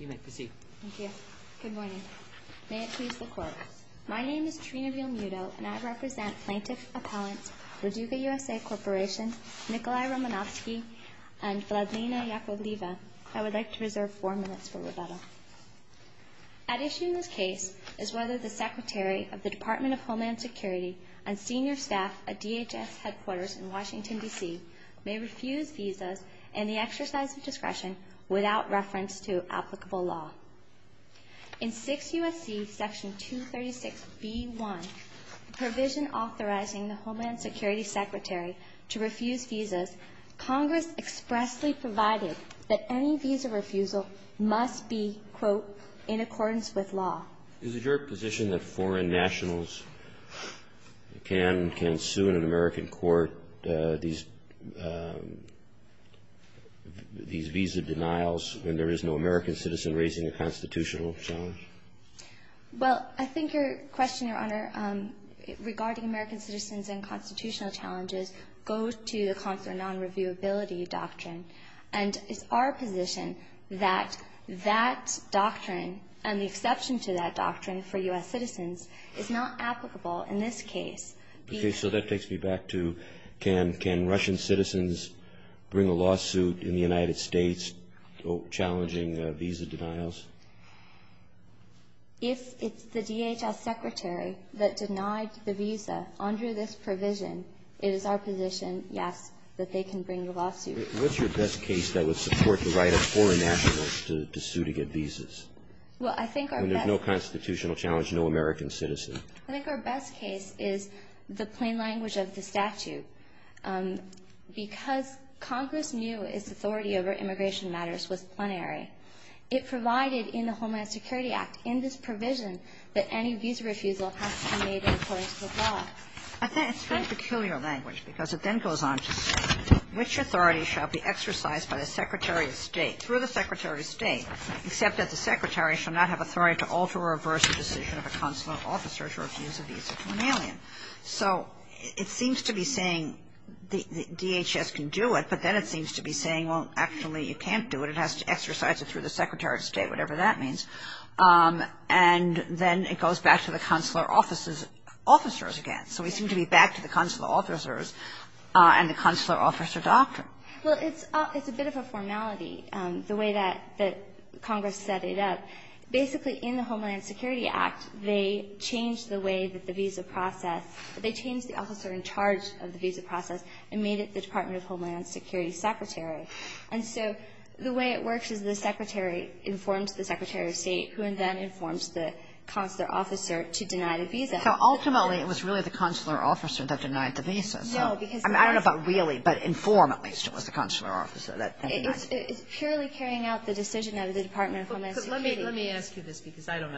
al. Good morning. May it please the Court, my name is Trina Veal Muto and I represent plaintiff appellants Reduga USA Corporation Nikolai Romanofsky and Vladlina Yakovleva. I would like to reserve four minutes for rebuttal. At issue in this case is whether the Secretary of the Department of Homeland Security and senior staff at DHS headquarters in Washington, D.C. may refuse visas and the exercise of the Section 232 applicable law. In 6 U.S.C. Section 236b.1, the provision authorizing the Homeland Security Secretary to refuse visas, Congress expressly provided that any visa refusal must be, quote, in accordance with law. Is it your position that foreign nationals can sue in an American court these visa denials when there is no American citizen raising a constitutional challenge? Well, I think your question, Your Honor, regarding American citizens and constitutional challenges, goes to the consular non-reviewability doctrine and it's our position that that doctrine and the exception to that doctrine for U.S. citizens is not applicable in this case. Okay, so that takes me back to can Russian citizens bring a lawsuit in the United States challenging visa denials? If it's the DHS Secretary that denied the visa under this provision, it is our position, yes, that they can bring the lawsuit. What's your best case that would support the right of foreign nationals to sue to get visas? Well, I think our best – When there's no constitutional challenge, no American citizen. I think our best case is the plain language of the statute. Because Congress knew its authority over immigration matters was plenary, it provided in the Homeland Security Act, in this provision, that any visa refusal has to be made in accordance with law. I think it's very peculiar language because it then goes on to say, which authority shall be exercised by the Secretary of State, through the Secretary of State, except that the Secretary shall not have authority to alter or reverse the decision of a consular officer to refuse a visa to an alien. So it seems to be saying the DHS can do it, but then it seems to be saying, well, actually you can't do it. It has to exercise it through the Secretary of State, whatever that means. And then it goes back to the consular officers again. So we seem to be back to the consular officers and the consular officer doctrine. Well, it's a bit of a formality, the way that Congress set it up. Basically, in the Homeland Security Act, they changed the way that the visa process they changed the officer in charge of the visa process and made it the Department of Homeland Security secretary. And so the way it works is the secretary informs the Secretary of State, who then informs the consular officer to deny the visa. So ultimately, it was really the consular officer that denied the visa. No, because I don't know about really, but inform, at least, it was the consular officer that denied It's purely carrying out the decision of the Department of Homeland Security Let me ask you this, because I'm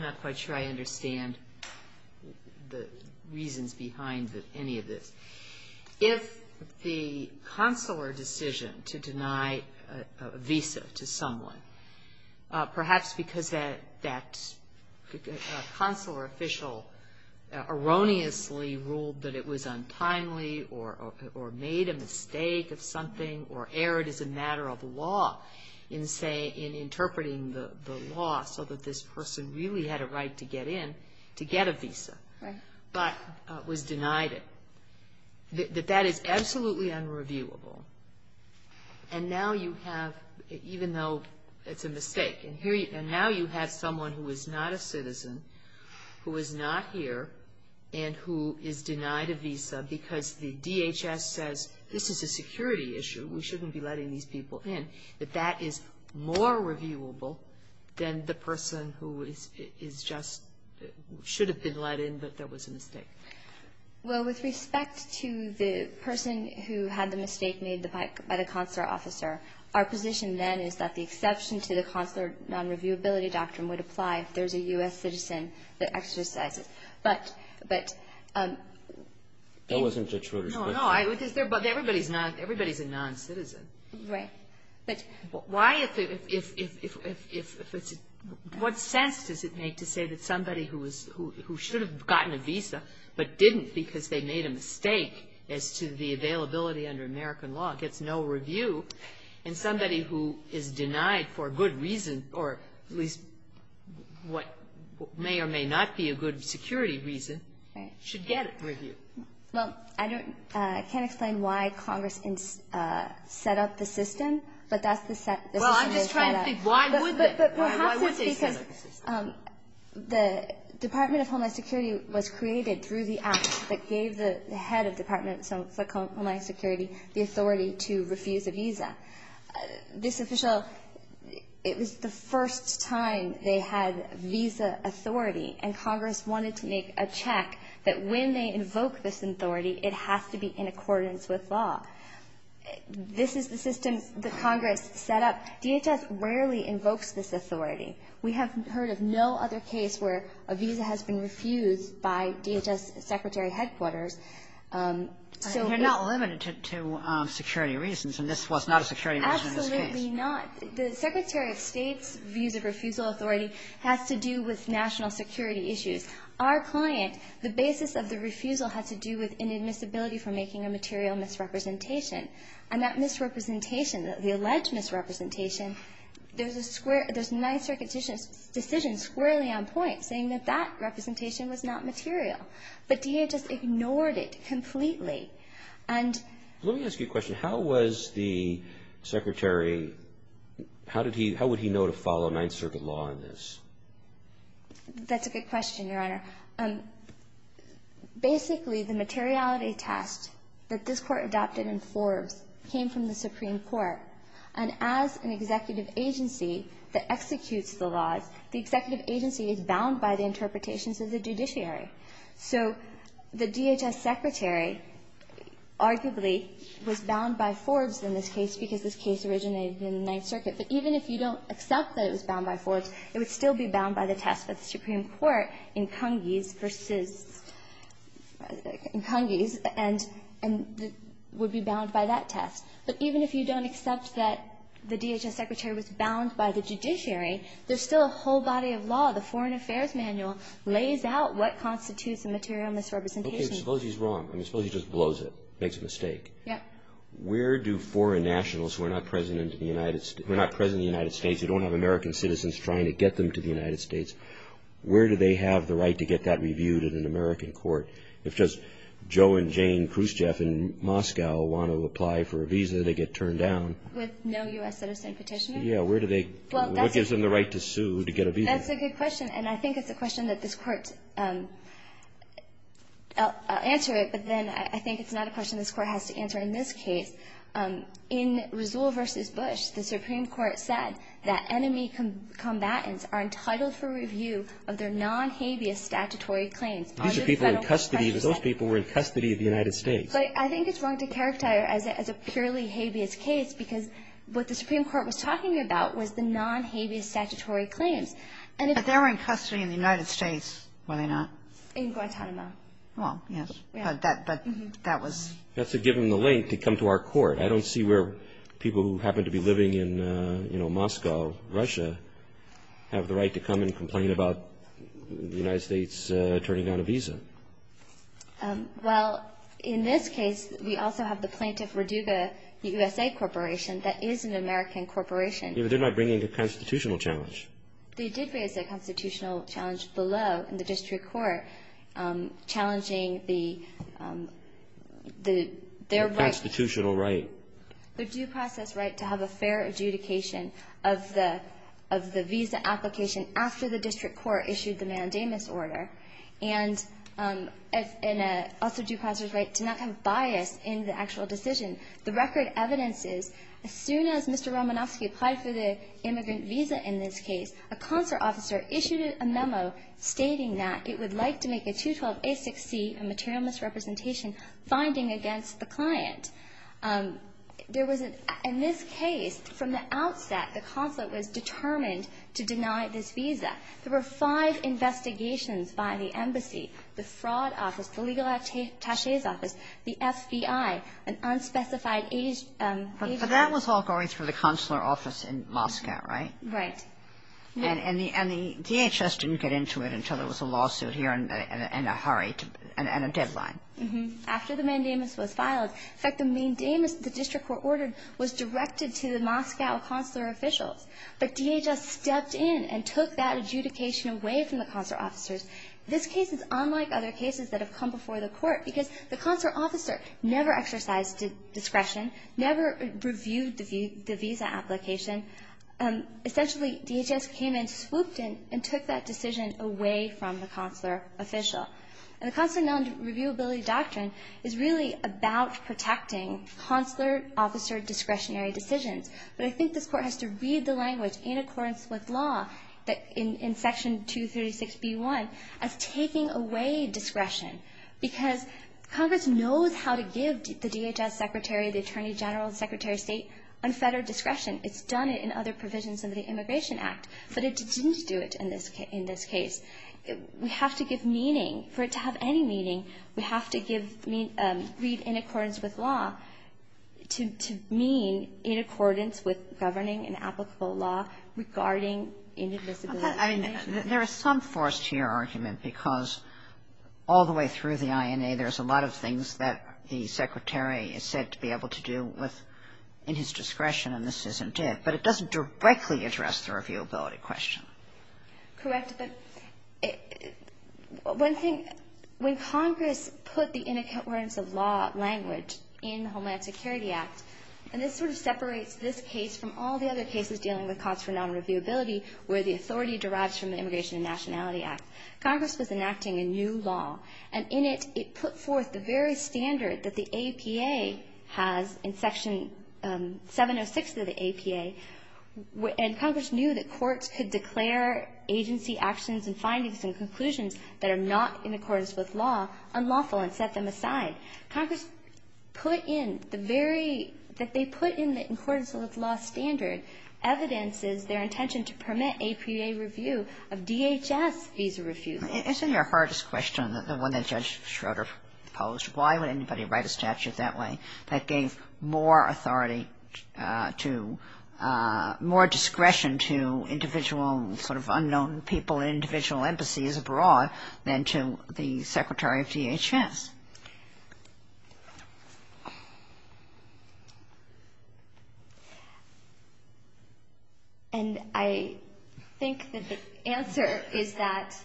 not quite sure I understand the reasons behind any of this. If the consular decision to deny a visa to someone, perhaps because that consular official erroneously ruled that it was untimely or made a mistake of something or erred as a person really had a right to get in, to get a visa, but was denied it, that that is absolutely unreviewable. And now you have, even though it's a mistake, and now you have someone who is not a citizen who is not here and who is denied a visa because the DHS says, this is a security issue, we shouldn't be letting these people in. That that is more reviewable than the person who is just, should have been let in, but there was a mistake. Well, with respect to the person who had the mistake made by the consular officer, our position then is that the exception to the consular non-reviewability doctrine would apply if there's a U.S. citizen that exercises. But, but That wasn't a true response. No, but everybody's not, everybody's a non-citizen. Right. But why if, if, if, if, if, if, if it's, what sense does it make to say that somebody who was, who, who should have gotten a visa, but didn't because they made a mistake as to the availability under American law gets no review, and somebody who is denied for a good reason, or at least what may or may not be a good security reason, should get a review? Well, I don't, I can't explain why Congress set up the system, but that's the Well, I'm just trying to think, why would they, why would they set up the system? But, but perhaps it's because the Department of Homeland Security was created through the act that gave the head of Department of Homeland Security the authority to refuse a visa. This official, it was the first time they had visa authority, and Congress wanted to make a check that when they invoke this authority, it has to be in accordance with law. This is the system that Congress set up. DHS rarely invokes this authority. We have heard of no other case where a visa has been refused by DHS Secretary Headquarters, so You're not limited to, to security reasons, and this was not a security reason in this case. Absolutely not. The Secretary of State's visa refusal authority has to do with national security issues. Our client, the basis of the refusal has to do with inadmissibility for making a material misrepresentation, and that misrepresentation, the alleged misrepresentation, there's a square, there's a Ninth Circuit decision squarely on point saying that that representation was not material, but DHS ignored it completely, and Let me ask you a question. How was the Secretary, how did he, how would he know to follow Ninth Circuit law in this? That's a good question, Your Honor. Basically, the materiality test that this Court adopted in Forbes came from the Supreme Court, and as an executive agency that executes the laws, the executive agency is bound by the interpretations of the judiciary. So the DHS Secretary arguably was bound by Forbes in this case because this case originated in the Ninth Circuit. But even if you don't accept that it was bound by Forbes, it would still be bound by the test that the Supreme Court incongrues versus, incongrues, and would be bound by that test. But even if you don't accept that the DHS Secretary was bound by the judiciary, there's still a whole body of law. The Foreign Affairs Manual lays out what constitutes a material misrepresentation. Okay, suppose he's wrong. I mean, suppose he just blows it, makes a mistake. Yeah. Where do foreign nationals who are not present in the United States, who don't have American citizens trying to get them to the United States, where do they have the right to get that reviewed in an American court? If just Joe and Jane Khrushchev in Moscow want to apply for a visa, they get turned down. With no U.S. citizen petitioning? Yeah, where do they, what gives them the right to sue to get a visa? That's a good question. And I think it's a question that this Court, I'll answer it, but then I think it's not a question this Court has to answer in this case. In Rizul v. Bush, the Supreme Court said that enemy combatants are entitled for review of their non-habeas statutory claims. These are people in custody, because those people were in custody of the United States. But I think it's wrong to characterize it as a purely habeas case, because what the Supreme Court was talking about was the non-habeas statutory claims. But they were in custody in the United States, were they not? In Guantanamo. Well, yes, but that was... That's to give them the link to come to our Court. I don't see where people who happen to be living in, you know, Moscow, Russia, have the right to come and complain about the United States turning down a visa. Well, in this case, we also have the plaintiff, Roduga, the USA Corporation, that is an American corporation. Yeah, but they're not bringing a constitutional challenge. They did raise a constitutional challenge below in the district court, challenging the right to have a fair adjudication of the visa application after the district court issued the mandamus order, and also due process right to not have bias in the actual decision. The record evidence is as soon as Mr. Romanofsky applied for the immigrant visa in this case, a consular officer issued a memo stating that it would like to make a 212a6c, a material misrepresentation, finding against the client. There was a — in this case, from the outset, the consulate was determined to deny this visa. There were five investigations by the embassy, the fraud office, the legal attaché's office, the FBI, an unspecified age — But that was all going through the consular office in Moscow, right? Right. And the DHS didn't get into it until there was a lawsuit here and a hurry and a deadline. Mm-hmm. After the mandamus was filed — in fact, the mandamus that the district court ordered was directed to the Moscow consular officials, but DHS stepped in and took that adjudication away from the consular officers. This case is unlike other cases that have come before the court because the consular officer never exercised discretion, never reviewed the visa application. Essentially, DHS came in, swooped in, and took that decision away from the consular official. And the consular non-reviewability doctrine is really about protecting consular officer discretionary decisions. But I think this Court has to read the language in accordance with law that — in Section 236b-1 as taking away discretion, because Congress knows how to give the DHS secretary, the attorney general, the secretary of state unfettered discretion. It's done it in other provisions of the Immigration Act, but it didn't do it in this — in this case. We have to give meaning. For it to have any meaning, we have to give — read in accordance with law to mean in accordance with governing an applicable law regarding indivisibility. I mean, there is some force to your argument because all the way through the INA, there's a lot of things that the secretary is said to be able to do with — in his discretion, and this isn't it. But it doesn't directly address the reviewability question. Correct. But one thing — when Congress put the in accordance of law language in Homeland Security Act, and this sort of separates this case from all the other cases dealing with costs for non-reviewability where the authority derives from the Immigration and Nationality Act, Congress was enacting a new law, and in it, it put forth the very standard that the APA has in Section 706 of the APA, and Congress knew that courts could declare agency actions and findings and conclusions that are not in accordance with law unlawful and set them aside. Congress put in the very — that they put in the in accordance with law standard evidence is their intention to permit APA review of DHS visa refusal. Isn't your hardest question, the one that Judge Schroeder posed, why would anybody write a statute that way that gave more authority to — more discretion to individual sort of unknown people in individual embassies abroad than to the secretary of DHS? And I think that the answer is that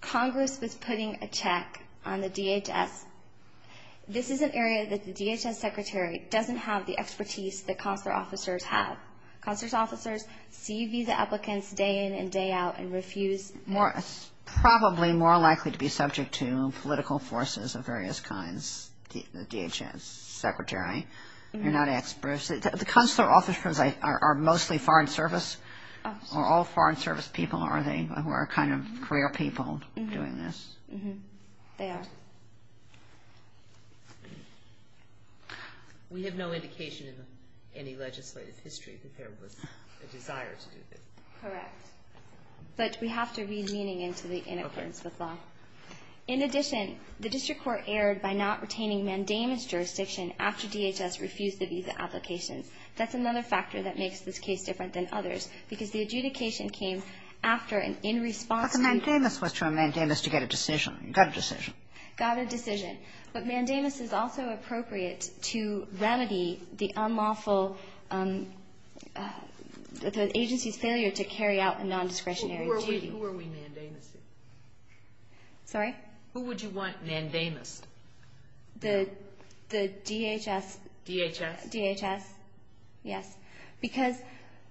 Congress was putting a check on the DHS. This is an area that the DHS secretary doesn't have the expertise that consular officers have. Consular officers see visa applicants day in and day out and refuse — More — probably more likely to be subject to political forces of various kinds, the consular officers are mostly Foreign Service or all Foreign Service people, are they, who are kind of career people doing this? Mm-hmm. They are. We have no indication in any legislative history that there was a desire to do this. Correct. But we have to read meaning into the in accordance with law. Okay. In addition, the district court erred by not retaining mandamus jurisdiction after DHS refused the visa applications. That's another factor that makes this case different than others, because the adjudication came after an in-response to the — But the mandamus was termed mandamus to get a decision, got a decision. Got a decision. But mandamus is also appropriate to remedy the unlawful agency's failure to carry out a nondiscretionary duty. Who are we mandamusing? Sorry? Who would you want mandamus? The DHS. DHS. DHS. Yes. Because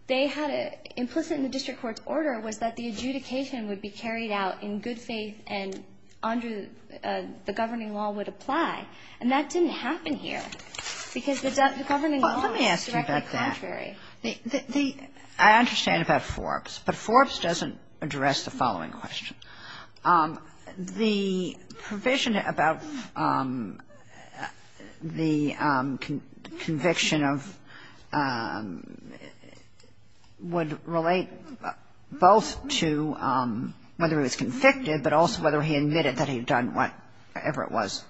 they had implicit in the district court's order was that the adjudication would be carried out in good faith and under the governing law would apply. And that didn't happen here, because the governing law was directly contrary. Well, let me ask you about that. I understand about Forbes, but Forbes doesn't address the following question. The provision about the conviction of — would relate both to whether he was convicted, but also whether he admitted that he had done whatever it was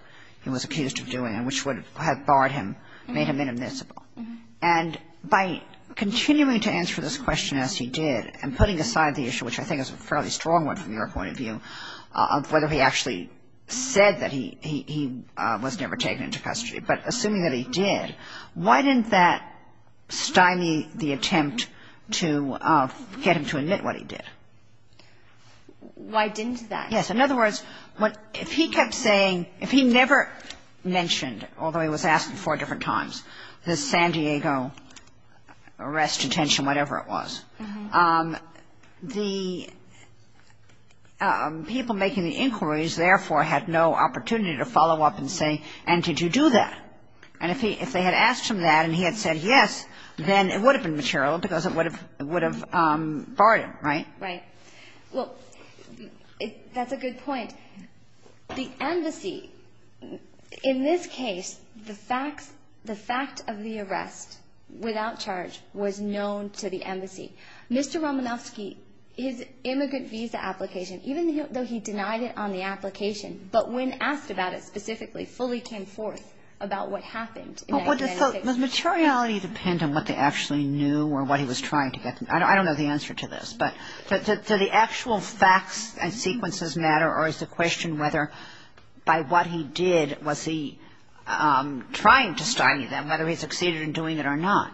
he was accused of doing and which would have barred him, made him inadmissible. And by continuing to answer this question as he did and putting aside the issue, which I think is a fairly strong one from your point of view, of whether he actually said that he was never taken into custody, but assuming that he did, why didn't that stymie the attempt to get him to admit what he did? Why didn't that? Yes. In other words, if he kept saying — if he never mentioned, although he was asked four different times, the San Diego arrest, detention, whatever it was, the people making the inquiries therefore had no opportunity to follow up and say, and did you do that? And if they had asked him that and he had said yes, then it would have been material because it would have barred him, right? Right. Well, that's a good point. The embassy, in this case, the fact of the arrest without charge was known to the embassy. Mr. Romanofsky, his immigrant visa application, even though he denied it on the application, but when asked about it specifically, fully came forth about what happened. Well, does materiality depend on what they actually knew or what he was trying to get? I don't know the answer to this. But do the actual facts and sequences matter, or is the question whether by what he did was he trying to stymie them, whether he succeeded in doing it or not?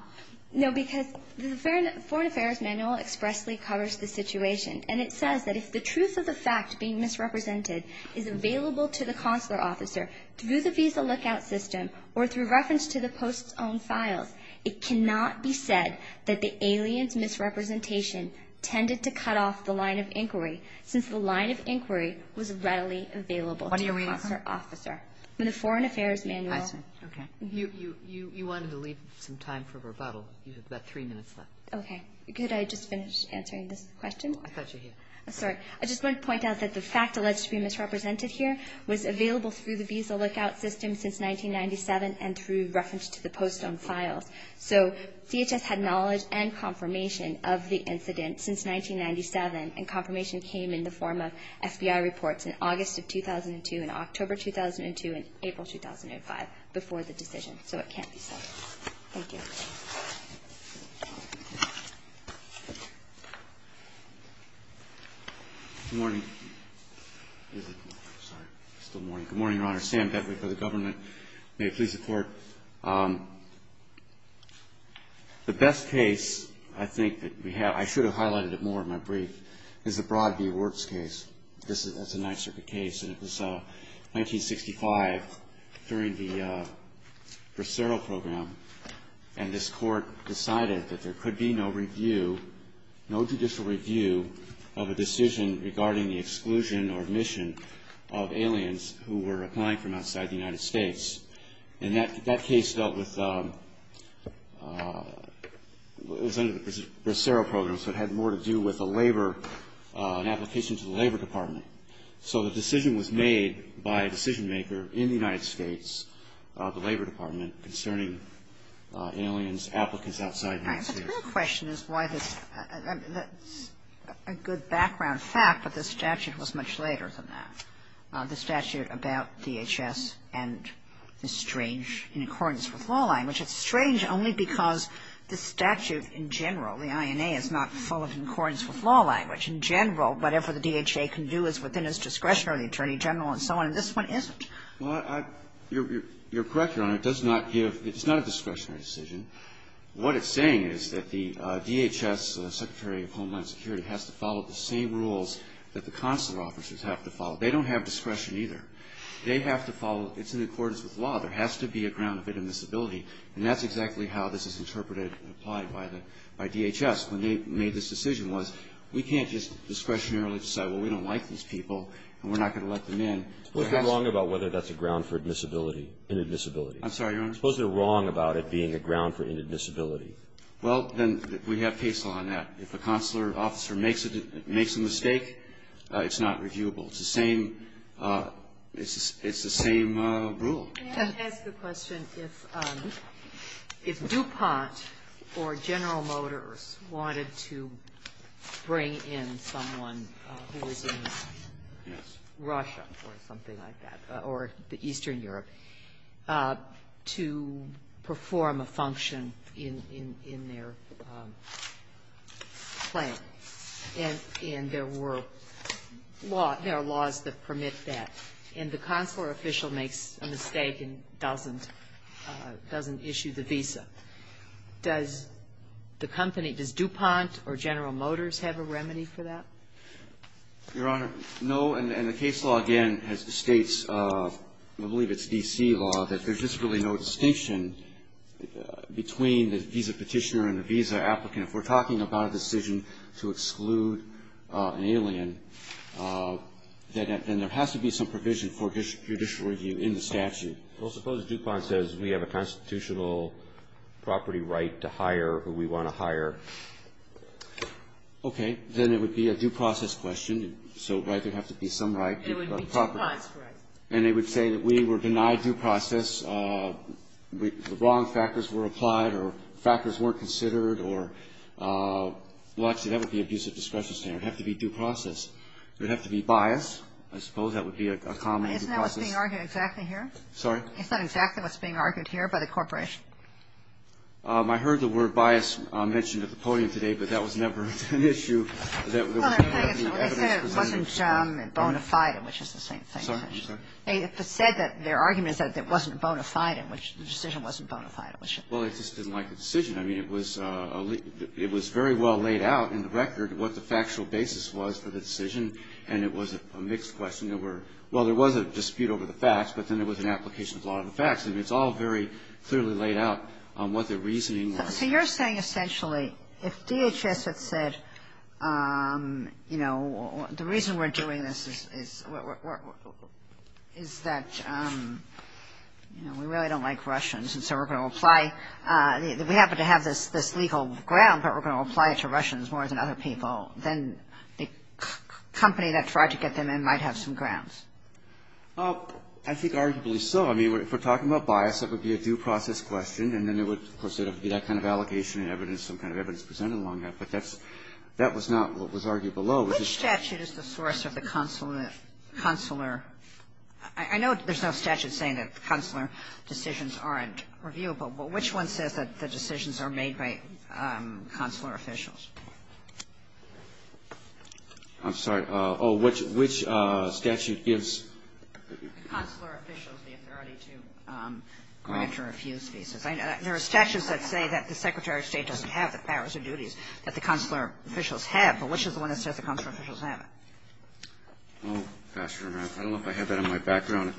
No, because the foreign affairs manual expressly covers the situation, and it says that if the truth of the fact being misrepresented is available to the consular officer through the visa lookout system or through reference to the post's own files, it cannot be said that the alien's misrepresentation tended to cut off the line of inquiry since the line of inquiry was readily available to the consular officer. What do you mean? In the foreign affairs manual. Okay. You wanted to leave some time for rebuttal. You have about three minutes left. Okay. Could I just finish answering this question? I thought you had. Sorry. I just wanted to point out that the fact alleged to be misrepresented here through the visa lookout system since 1997 and through reference to the post's own files. So DHS had knowledge and confirmation of the incident since 1997, and confirmation came in the form of FBI reports in August of 2002 and October 2002 and April 2005 before the decision, so it can't be said. Thank you. Good morning. Is it still morning? Good morning, Your Honor. Sam Bedwick for the government. May it please the Court. The best case I think that we have, I should have highlighted it more in my brief, is the Broadview Works case. That's a Ninth Circuit case. And it was 1965 during the Bracero Program, and this Court decided that there could be no review, no judicial review of a decision regarding the exclusion or admission of aliens who were applying from outside the United States. And that case dealt with, was under the Bracero Program, so it had more to do with a labor, an application to the Labor Department. So the decision was made by a decision-maker in the United States, the Labor Department, concerning aliens, applicants outside the United States. All right. But the question is why this, that's a good background fact, but the statute was much later than that. The statute about DHS and the strange in accordance with law language. It's strange only because the statute in general, the INA is not full of in accordance with law language. The statute in general, whatever the DHA can do is within its discretion or the Attorney General and so on. And this one isn't. Well, I, you're correct, Your Honor. It does not give, it's not a discretionary decision. What it's saying is that the DHS Secretary of Homeland Security has to follow the same rules that the consular officers have to follow. They don't have discretion either. They have to follow, it's in accordance with law. There has to be a ground of inadmissibility. And that's exactly how this is interpreted and applied by the, by DHS when they made this decision was we can't just discretionarily decide, well, we don't like these people and we're not going to let them in. Suppose they're wrong about whether that's a ground for admissibility, inadmissibility. I'm sorry, Your Honor. Suppose they're wrong about it being a ground for inadmissibility. Well, then we have case law on that. If a consular officer makes a mistake, it's not reviewable. It's the same, it's the same rule. Sotomayor, may I ask a question? If DuPont or General Motors wanted to bring in someone who was in Russia or something like that, or Eastern Europe, to perform a function in their plan, and there were laws that permit that, and the consular official makes a mistake and doesn't, doesn't issue the visa, does the company, does DuPont or General Motors have a remedy for that? Your Honor, no. And the case law, again, states, I believe it's D.C. law, that there's just really no distinction between the visa petitioner and the visa applicant. If we're talking about a decision to exclude an alien, then there has to be some provision for judicial review in the statute. Well, suppose DuPont says we have a constitutional property right to hire who we want to hire. Okay. Then it would be a due process question. So, right, there would have to be some right. It would be DuPont's right. And they would say that we were denied due process, the wrong factors were applied or factors weren't considered, or, well, actually, that would be abusive discretion standard. It would have to be due process. There would have to be bias. I suppose that would be a common due process. Isn't that what's being argued exactly here? Sorry? Isn't that exactly what's being argued here by the corporation? I heard the word bias mentioned at the podium today, but that was never an issue that was presented. Well, they said it wasn't bona fide, which is the same thing. I'm sorry. They said that their argument is that it wasn't bona fide, in which the decision wasn't bona fide. Well, they just didn't like the decision. I mean, it was very well laid out in the record what the factual basis was for the decision, and it was a mixed question. There were, well, there was a dispute over the facts, but then there was an application of the law of the facts. I mean, it's all very clearly laid out on what their reasoning was. So you're saying, essentially, if DHS had said, you know, the reason we're doing this is that, you know, we really don't like Russians, and so we're going to apply, we happen to have this legal ground, but we're going to apply it to Russians more than other people, then the company that tried to get them in might have some grounds? Well, I think arguably so. I mean, if we're talking about bias, that would be a due process question, and then there would, of course, there would be that kind of allegation and evidence, some kind of evidence presented along that. But that was not what was argued below. Which statute is the source of the consular? I know there's no statute saying that consular decisions aren't reviewable, but which one says that the decisions are made by consular officials? I'm sorry. Oh, which statute gives? Consular officials the authority to grant or refuse visas. There are statutes that say that the Secretary of State doesn't have the powers and duties that the consular officials have, but which is the one that says the consular officials have it? Well, Your Honor, I don't know if I have that in my background,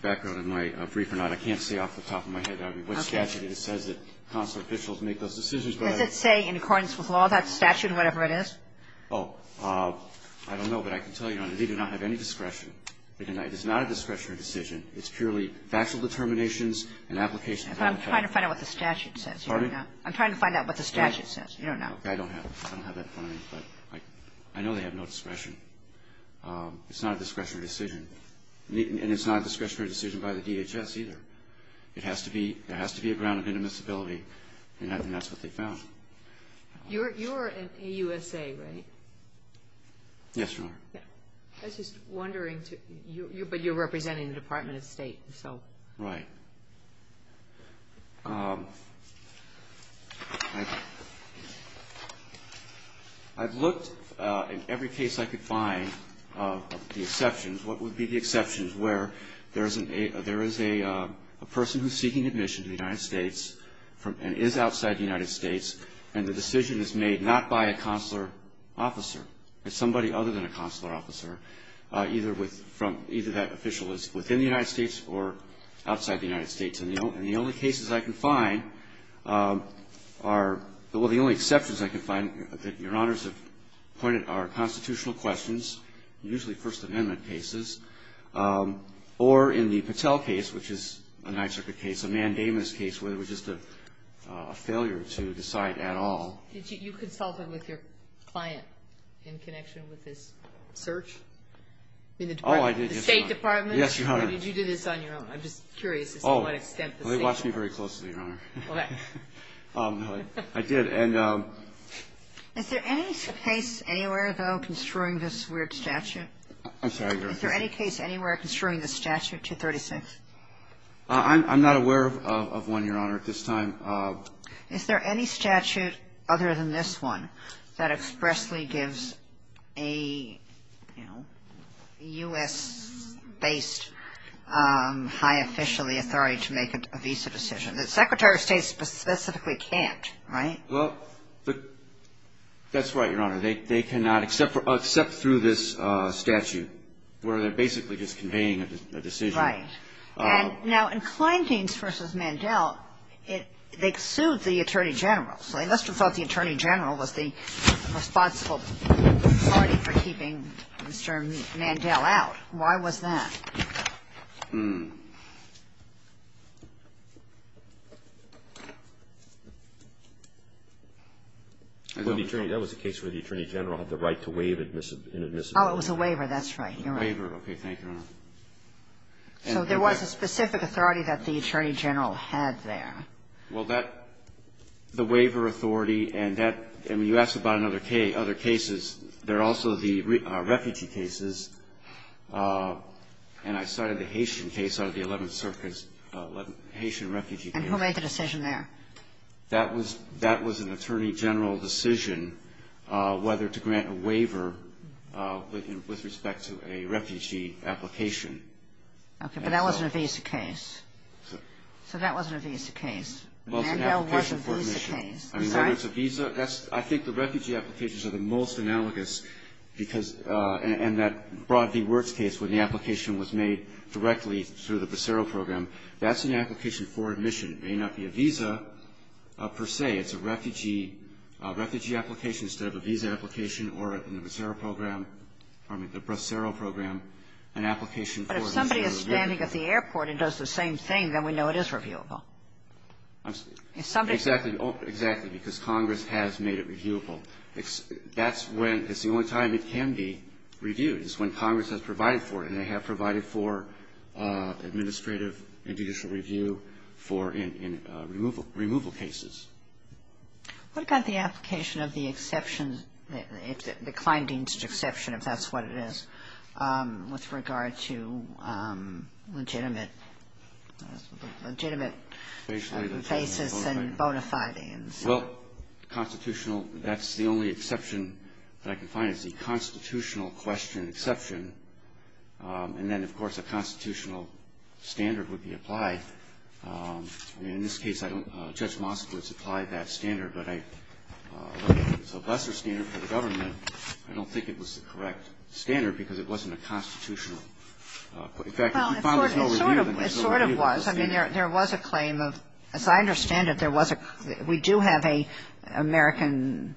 background in my brief or not. I can't say off the top of my head. I mean, what statute says that consular officials make those decisions? Does it say in accordance with law that statute, whatever it is? Oh, I don't know, but I can tell you, Your Honor, they do not have any discretion. It is not a discretionary decision. It's purely factual determinations and applications. But I'm trying to find out what the statute says. Pardon me? I'm trying to find out what the statute says. You don't know. I don't have that in front of me, but I know they have no discretion. It's not a discretionary decision. And it's not a discretionary decision by the DHS either. It has to be a ground of indemnizability, and that's what they found. You're in AUSA, right? Yes, Your Honor. I was just wondering, but you're representing the Department of State, so. Right. I've looked in every case I could find of the exceptions. What would be the exceptions where there is a person who is seeking admission to the United States and is outside the United States, and the decision is made not by a consular officer, but somebody other than a consular officer, either that official is within the United States or outside the United States, and the only cases I can find are, well, the only exceptions I can find that Your Honors have pointed are constitutional questions, usually First Amendment cases, or in the Patel case, which is a Ninth Circuit case, a mandamus case, where it was just a failure to decide at all. Did you consult with your client in connection with this search? Oh, I did. The State Department? Yes, Your Honor. Or did you do this on your own? I'm just curious as to what extent the State Department. Oh, they watch me very closely, Your Honor. Okay. I did. Is there any case anywhere, though, construing this weird statute? I'm sorry, Your Honor. Is there any case anywhere construing this statute, 236? I'm not aware of one, Your Honor, at this time. Is there any statute other than this one that expressly gives a, you know, U.S.-based high official the authority to make a visa decision? The Secretary of State specifically can't, right? Well, that's right, Your Honor. They cannot except through this statute, where they're basically just conveying a decision. Right. Now, in Kleindienst v. Mandel, they sued the Attorney General. So they must have thought the Attorney General was the responsible party for keeping Mr. Mandel out. Why was that? Hmm. That was the case where the Attorney General had the right to waive an admissibility. Oh, it was a waiver. That's right, Your Honor. A waiver. Okay. Thank you, Your Honor. So there was a specific authority that the Attorney General had there. Well, that, the waiver authority and that, and when you ask about other cases, there are also the refugee cases. And I cited the Haitian case out of the Eleventh Circuit, Haitian refugee case. And who made the decision there? That was an Attorney General decision whether to grant a waiver with respect to a refugee application. Okay. But that wasn't a visa case. So that wasn't a visa case. Mandel was a visa case. I mean, whether it's a visa, that's, I think the refugee applications are the most analogous because, and that Broad v. Wirtz case when the application was made directly through the Bracero Program, that's an application for admission. It may not be a visa per se. It's a refugee application instead of a visa application or a Bracero Program, an application for admission. But if somebody is standing at the airport and does the same thing, then we know it is reviewable. If somebody is standing at the airport. Exactly. Because Congress has made it reviewable. That's when, it's the only time it can be reviewed is when Congress has provided for it. And they have provided for administrative and judicial review for removal cases. What about the application of the exception, the Kleindienst exception, if that's what it is, with regard to legitimate basis and bona fides? Well, constitutional, that's the only exception that I can find is the constitutional question exception, and then, of course, a constitutional standard would be applied. I mean, in this case, I don't know. Judge Moskowitz applied that standard, but I don't think it's a lesser standard for the government. I don't think it was the correct standard because it wasn't a constitutional standard. But it sort of was. I mean, there was a claim of, as I understand it, there was a we do have an American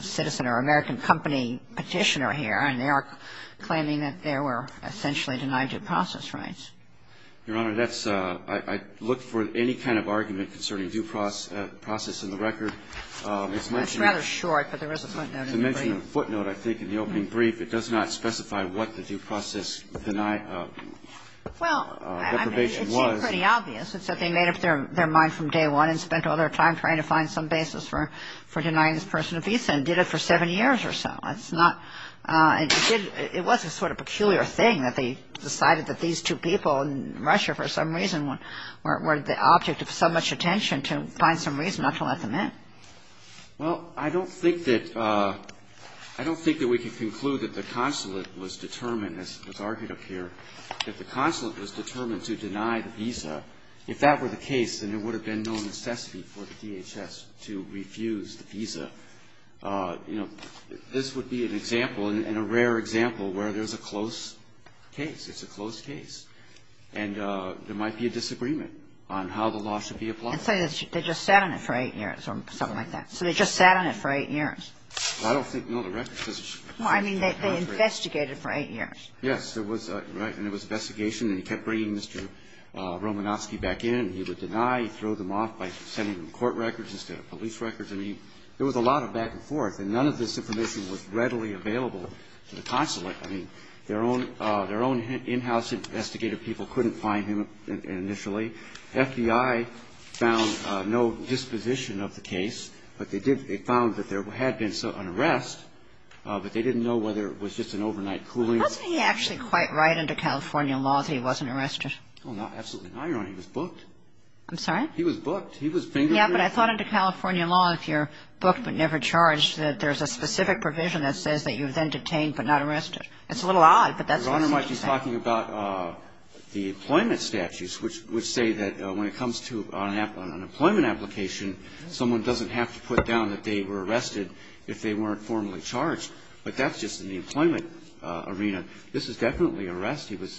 citizen or American company Petitioner here, and they are claiming that they were essentially denied due process rights. Your Honor, that's, I look for any kind of argument concerning due process in the record. It's mentioned. It's rather short, but there is a footnote in the brief. To mention a footnote, I think, in the opening brief, it does not specify what the due process denial deprivation was. Well, I mean, it seems pretty obvious. It's that they made up their mind from day one and spent all their time trying to find some basis for denying this person a visa and did it for seven years or so. It's not – it did – it was a sort of peculiar thing that they decided that these two people in Russia for some reason were the object of so much attention to find some reason not to let them in. Well, I don't think that – I don't think that we can conclude that the consulate was determined, as argued up here, that the consulate was determined to deny the visa. If that were the case, then there would have been no necessity for the DHS to refuse the visa. You know, this would be an example and a rare example where there's a close case. It's a close case. And there might be a disagreement on how the law should be applied. And say they just sat on it for eight years or something like that. So they just sat on it for eight years. I don't think, no, the record says it should be seven years. Well, I mean, they investigated for eight years. Yes. There was – right. And there was investigation. And he kept bringing Mr. Romanofsky back in. He would deny. He'd throw them off by sending them court records instead of police records. I mean, there was a lot of back and forth. And none of this information was readily available to the consulate. I mean, their own – their own in-house investigative people couldn't find him initially. The FBI found no disposition of the case. But they did – they found that there had been an arrest. But they didn't know whether it was just an overnight cooling. Wasn't he actually quite right under California law that he wasn't arrested? Oh, absolutely not, Your Honor. He was booked. I'm sorry? He was booked. He was fingered. Yeah, but I thought under California law, if you're booked but never charged, that there's a specific provision that says that you're then detained but not arrested. It's a little odd, but that's what it says. Your Honor might be talking about the employment statutes, which say that when it comes to an employment application, someone doesn't have to put down that they were arrested if they weren't formally charged. But that's just in the employment arena. This is definitely an arrest. He was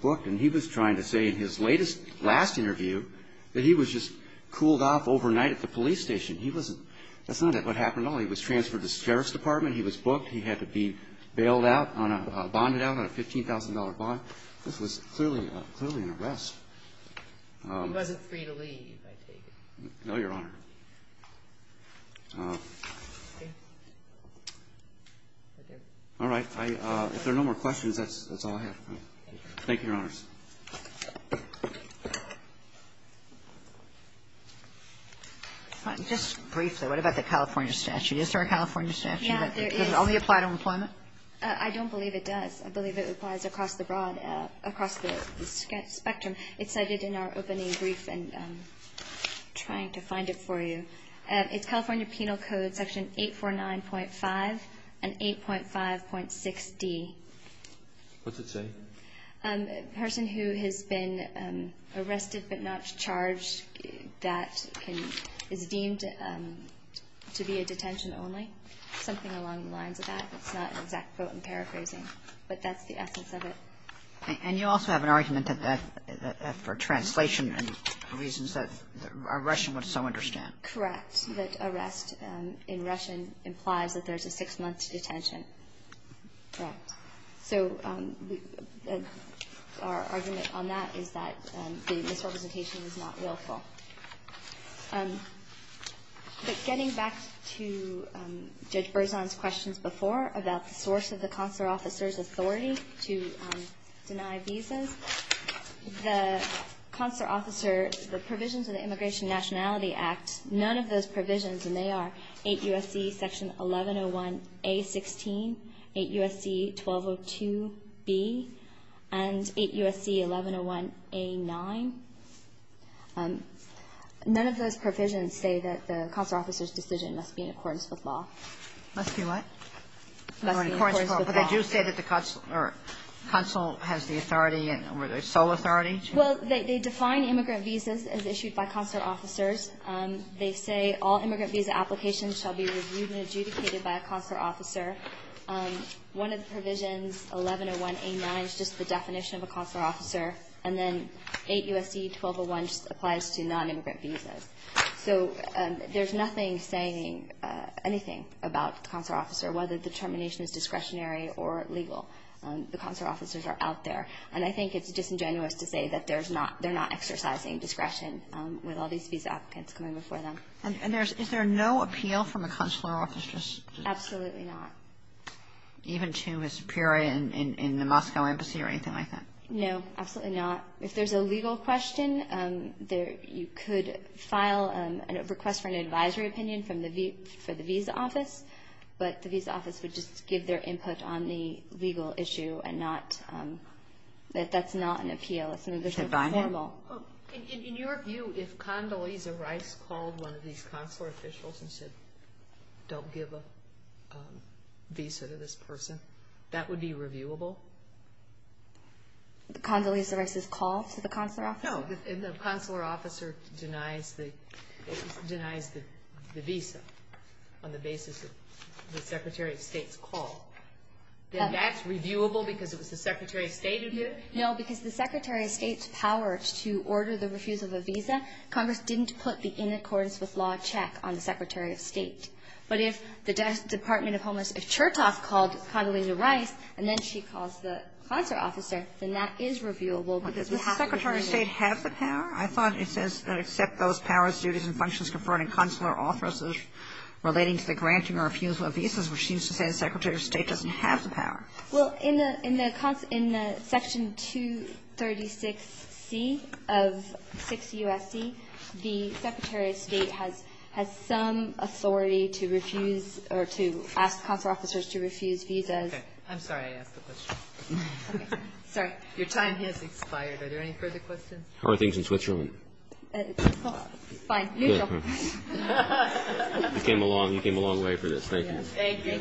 booked. And he was trying to say in his latest – last interview that he was just cooled off overnight at the police station. He wasn't – that's not what happened at all. He was transferred to the Sheriff's Department. He was booked. He had to be bailed out on a – bonded out on a $15,000 bond. This was clearly – clearly an arrest. He wasn't free to leave, I take it. No, Your Honor. All right. If there are no more questions, that's all I have. Thank you, Your Honors. Just briefly, what about the California statute? Is there a California statute that only applies to employment? I don't believe it does. I believe it applies across the broad – across the spectrum. It's cited in our opening brief and I'm trying to find it for you. It's California Penal Code Section 849.5 and 8.5.6d. What's it say? A person who has been arrested but not charged that can – is deemed to be a detention only. Something along the lines of that. It's not an exact quote. I'm paraphrasing. But that's the essence of it. And you also have an argument that that – for translation reasons that a Russian would so understand. Correct. That arrest in Russian implies that there's a six-month detention. Correct. So our argument on that is that the misrepresentation is not willful. But getting back to Judge Berzon's questions before about the source of the consular officer's authority to deny visas, the consular officer, the provisions of the Immigration Nationality Act, none of those provisions, and they are 8 U.S.C. Section 1101a.16, 8 U.S.C. 1202b, and 8 U.S.C. 1101a.9. None of those provisions say that the consular officer's decision must be in accordance with law. Must be what? Must be in accordance with law. But they do say that the consul has the authority and sole authority? Well, they define immigrant visas as issued by consular officers. They say all immigrant visa applications shall be reviewed and adjudicated by a consular officer. One of the provisions, 1101a.9, is just the definition of a consular officer. And then 8 U.S.C. 1201 just applies to nonimmigrant visas. So there's nothing saying anything about the consular officer, whether the determination is discretionary or legal. The consular officers are out there. And I think it's disingenuous to say that there's not they're not exercising discretion with all these visa applicants coming before them. And is there no appeal from a consular officer's? Absolutely not. Even to a superior in the Moscow embassy or anything like that? No, absolutely not. If there's a legal question, you could file a request for an advisory opinion for the visa office. But the visa office would just give their input on the legal issue, and that's not an appeal. It's a formal. In your view, if Condoleezza Rice called one of these consular officials and said, don't give a visa to this person, that would be reviewable? Condoleezza Rice's call to the consular officer? No. If the consular officer denies the visa on the basis of the Secretary of State's call, then that's reviewable because it was the Secretary of State who did it? No, because the Secretary of State's power to order the refusal of a visa, Congress didn't put the in accordance with law check on the Secretary of State. But if the Department of Homelessness, if Chertoff called Condoleezza Rice and then she calls the consular officer, then that is reviewable because we have to review it. But does the Secretary of State have the power? I thought it says that except those powers, duties, and functions conferred in consular offices relating to the granting or refusal of visas, which seems to say the Secretary of State doesn't have the power. Well, in the section 236C of 6 U.S.C., the Secretary of State has some authority to refuse or to ask consular officers to refuse visas. Okay. I'm sorry I asked the question. Sorry. Your time has expired. Are there any further questions? How are things in Switzerland? Fine. You go. You came a long way for this. Thank you. Thank you.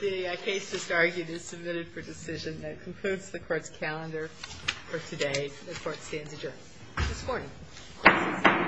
The case just argued is submitted for decision. That concludes the Court's calendar for today. The Court stands adjourned. This is for you.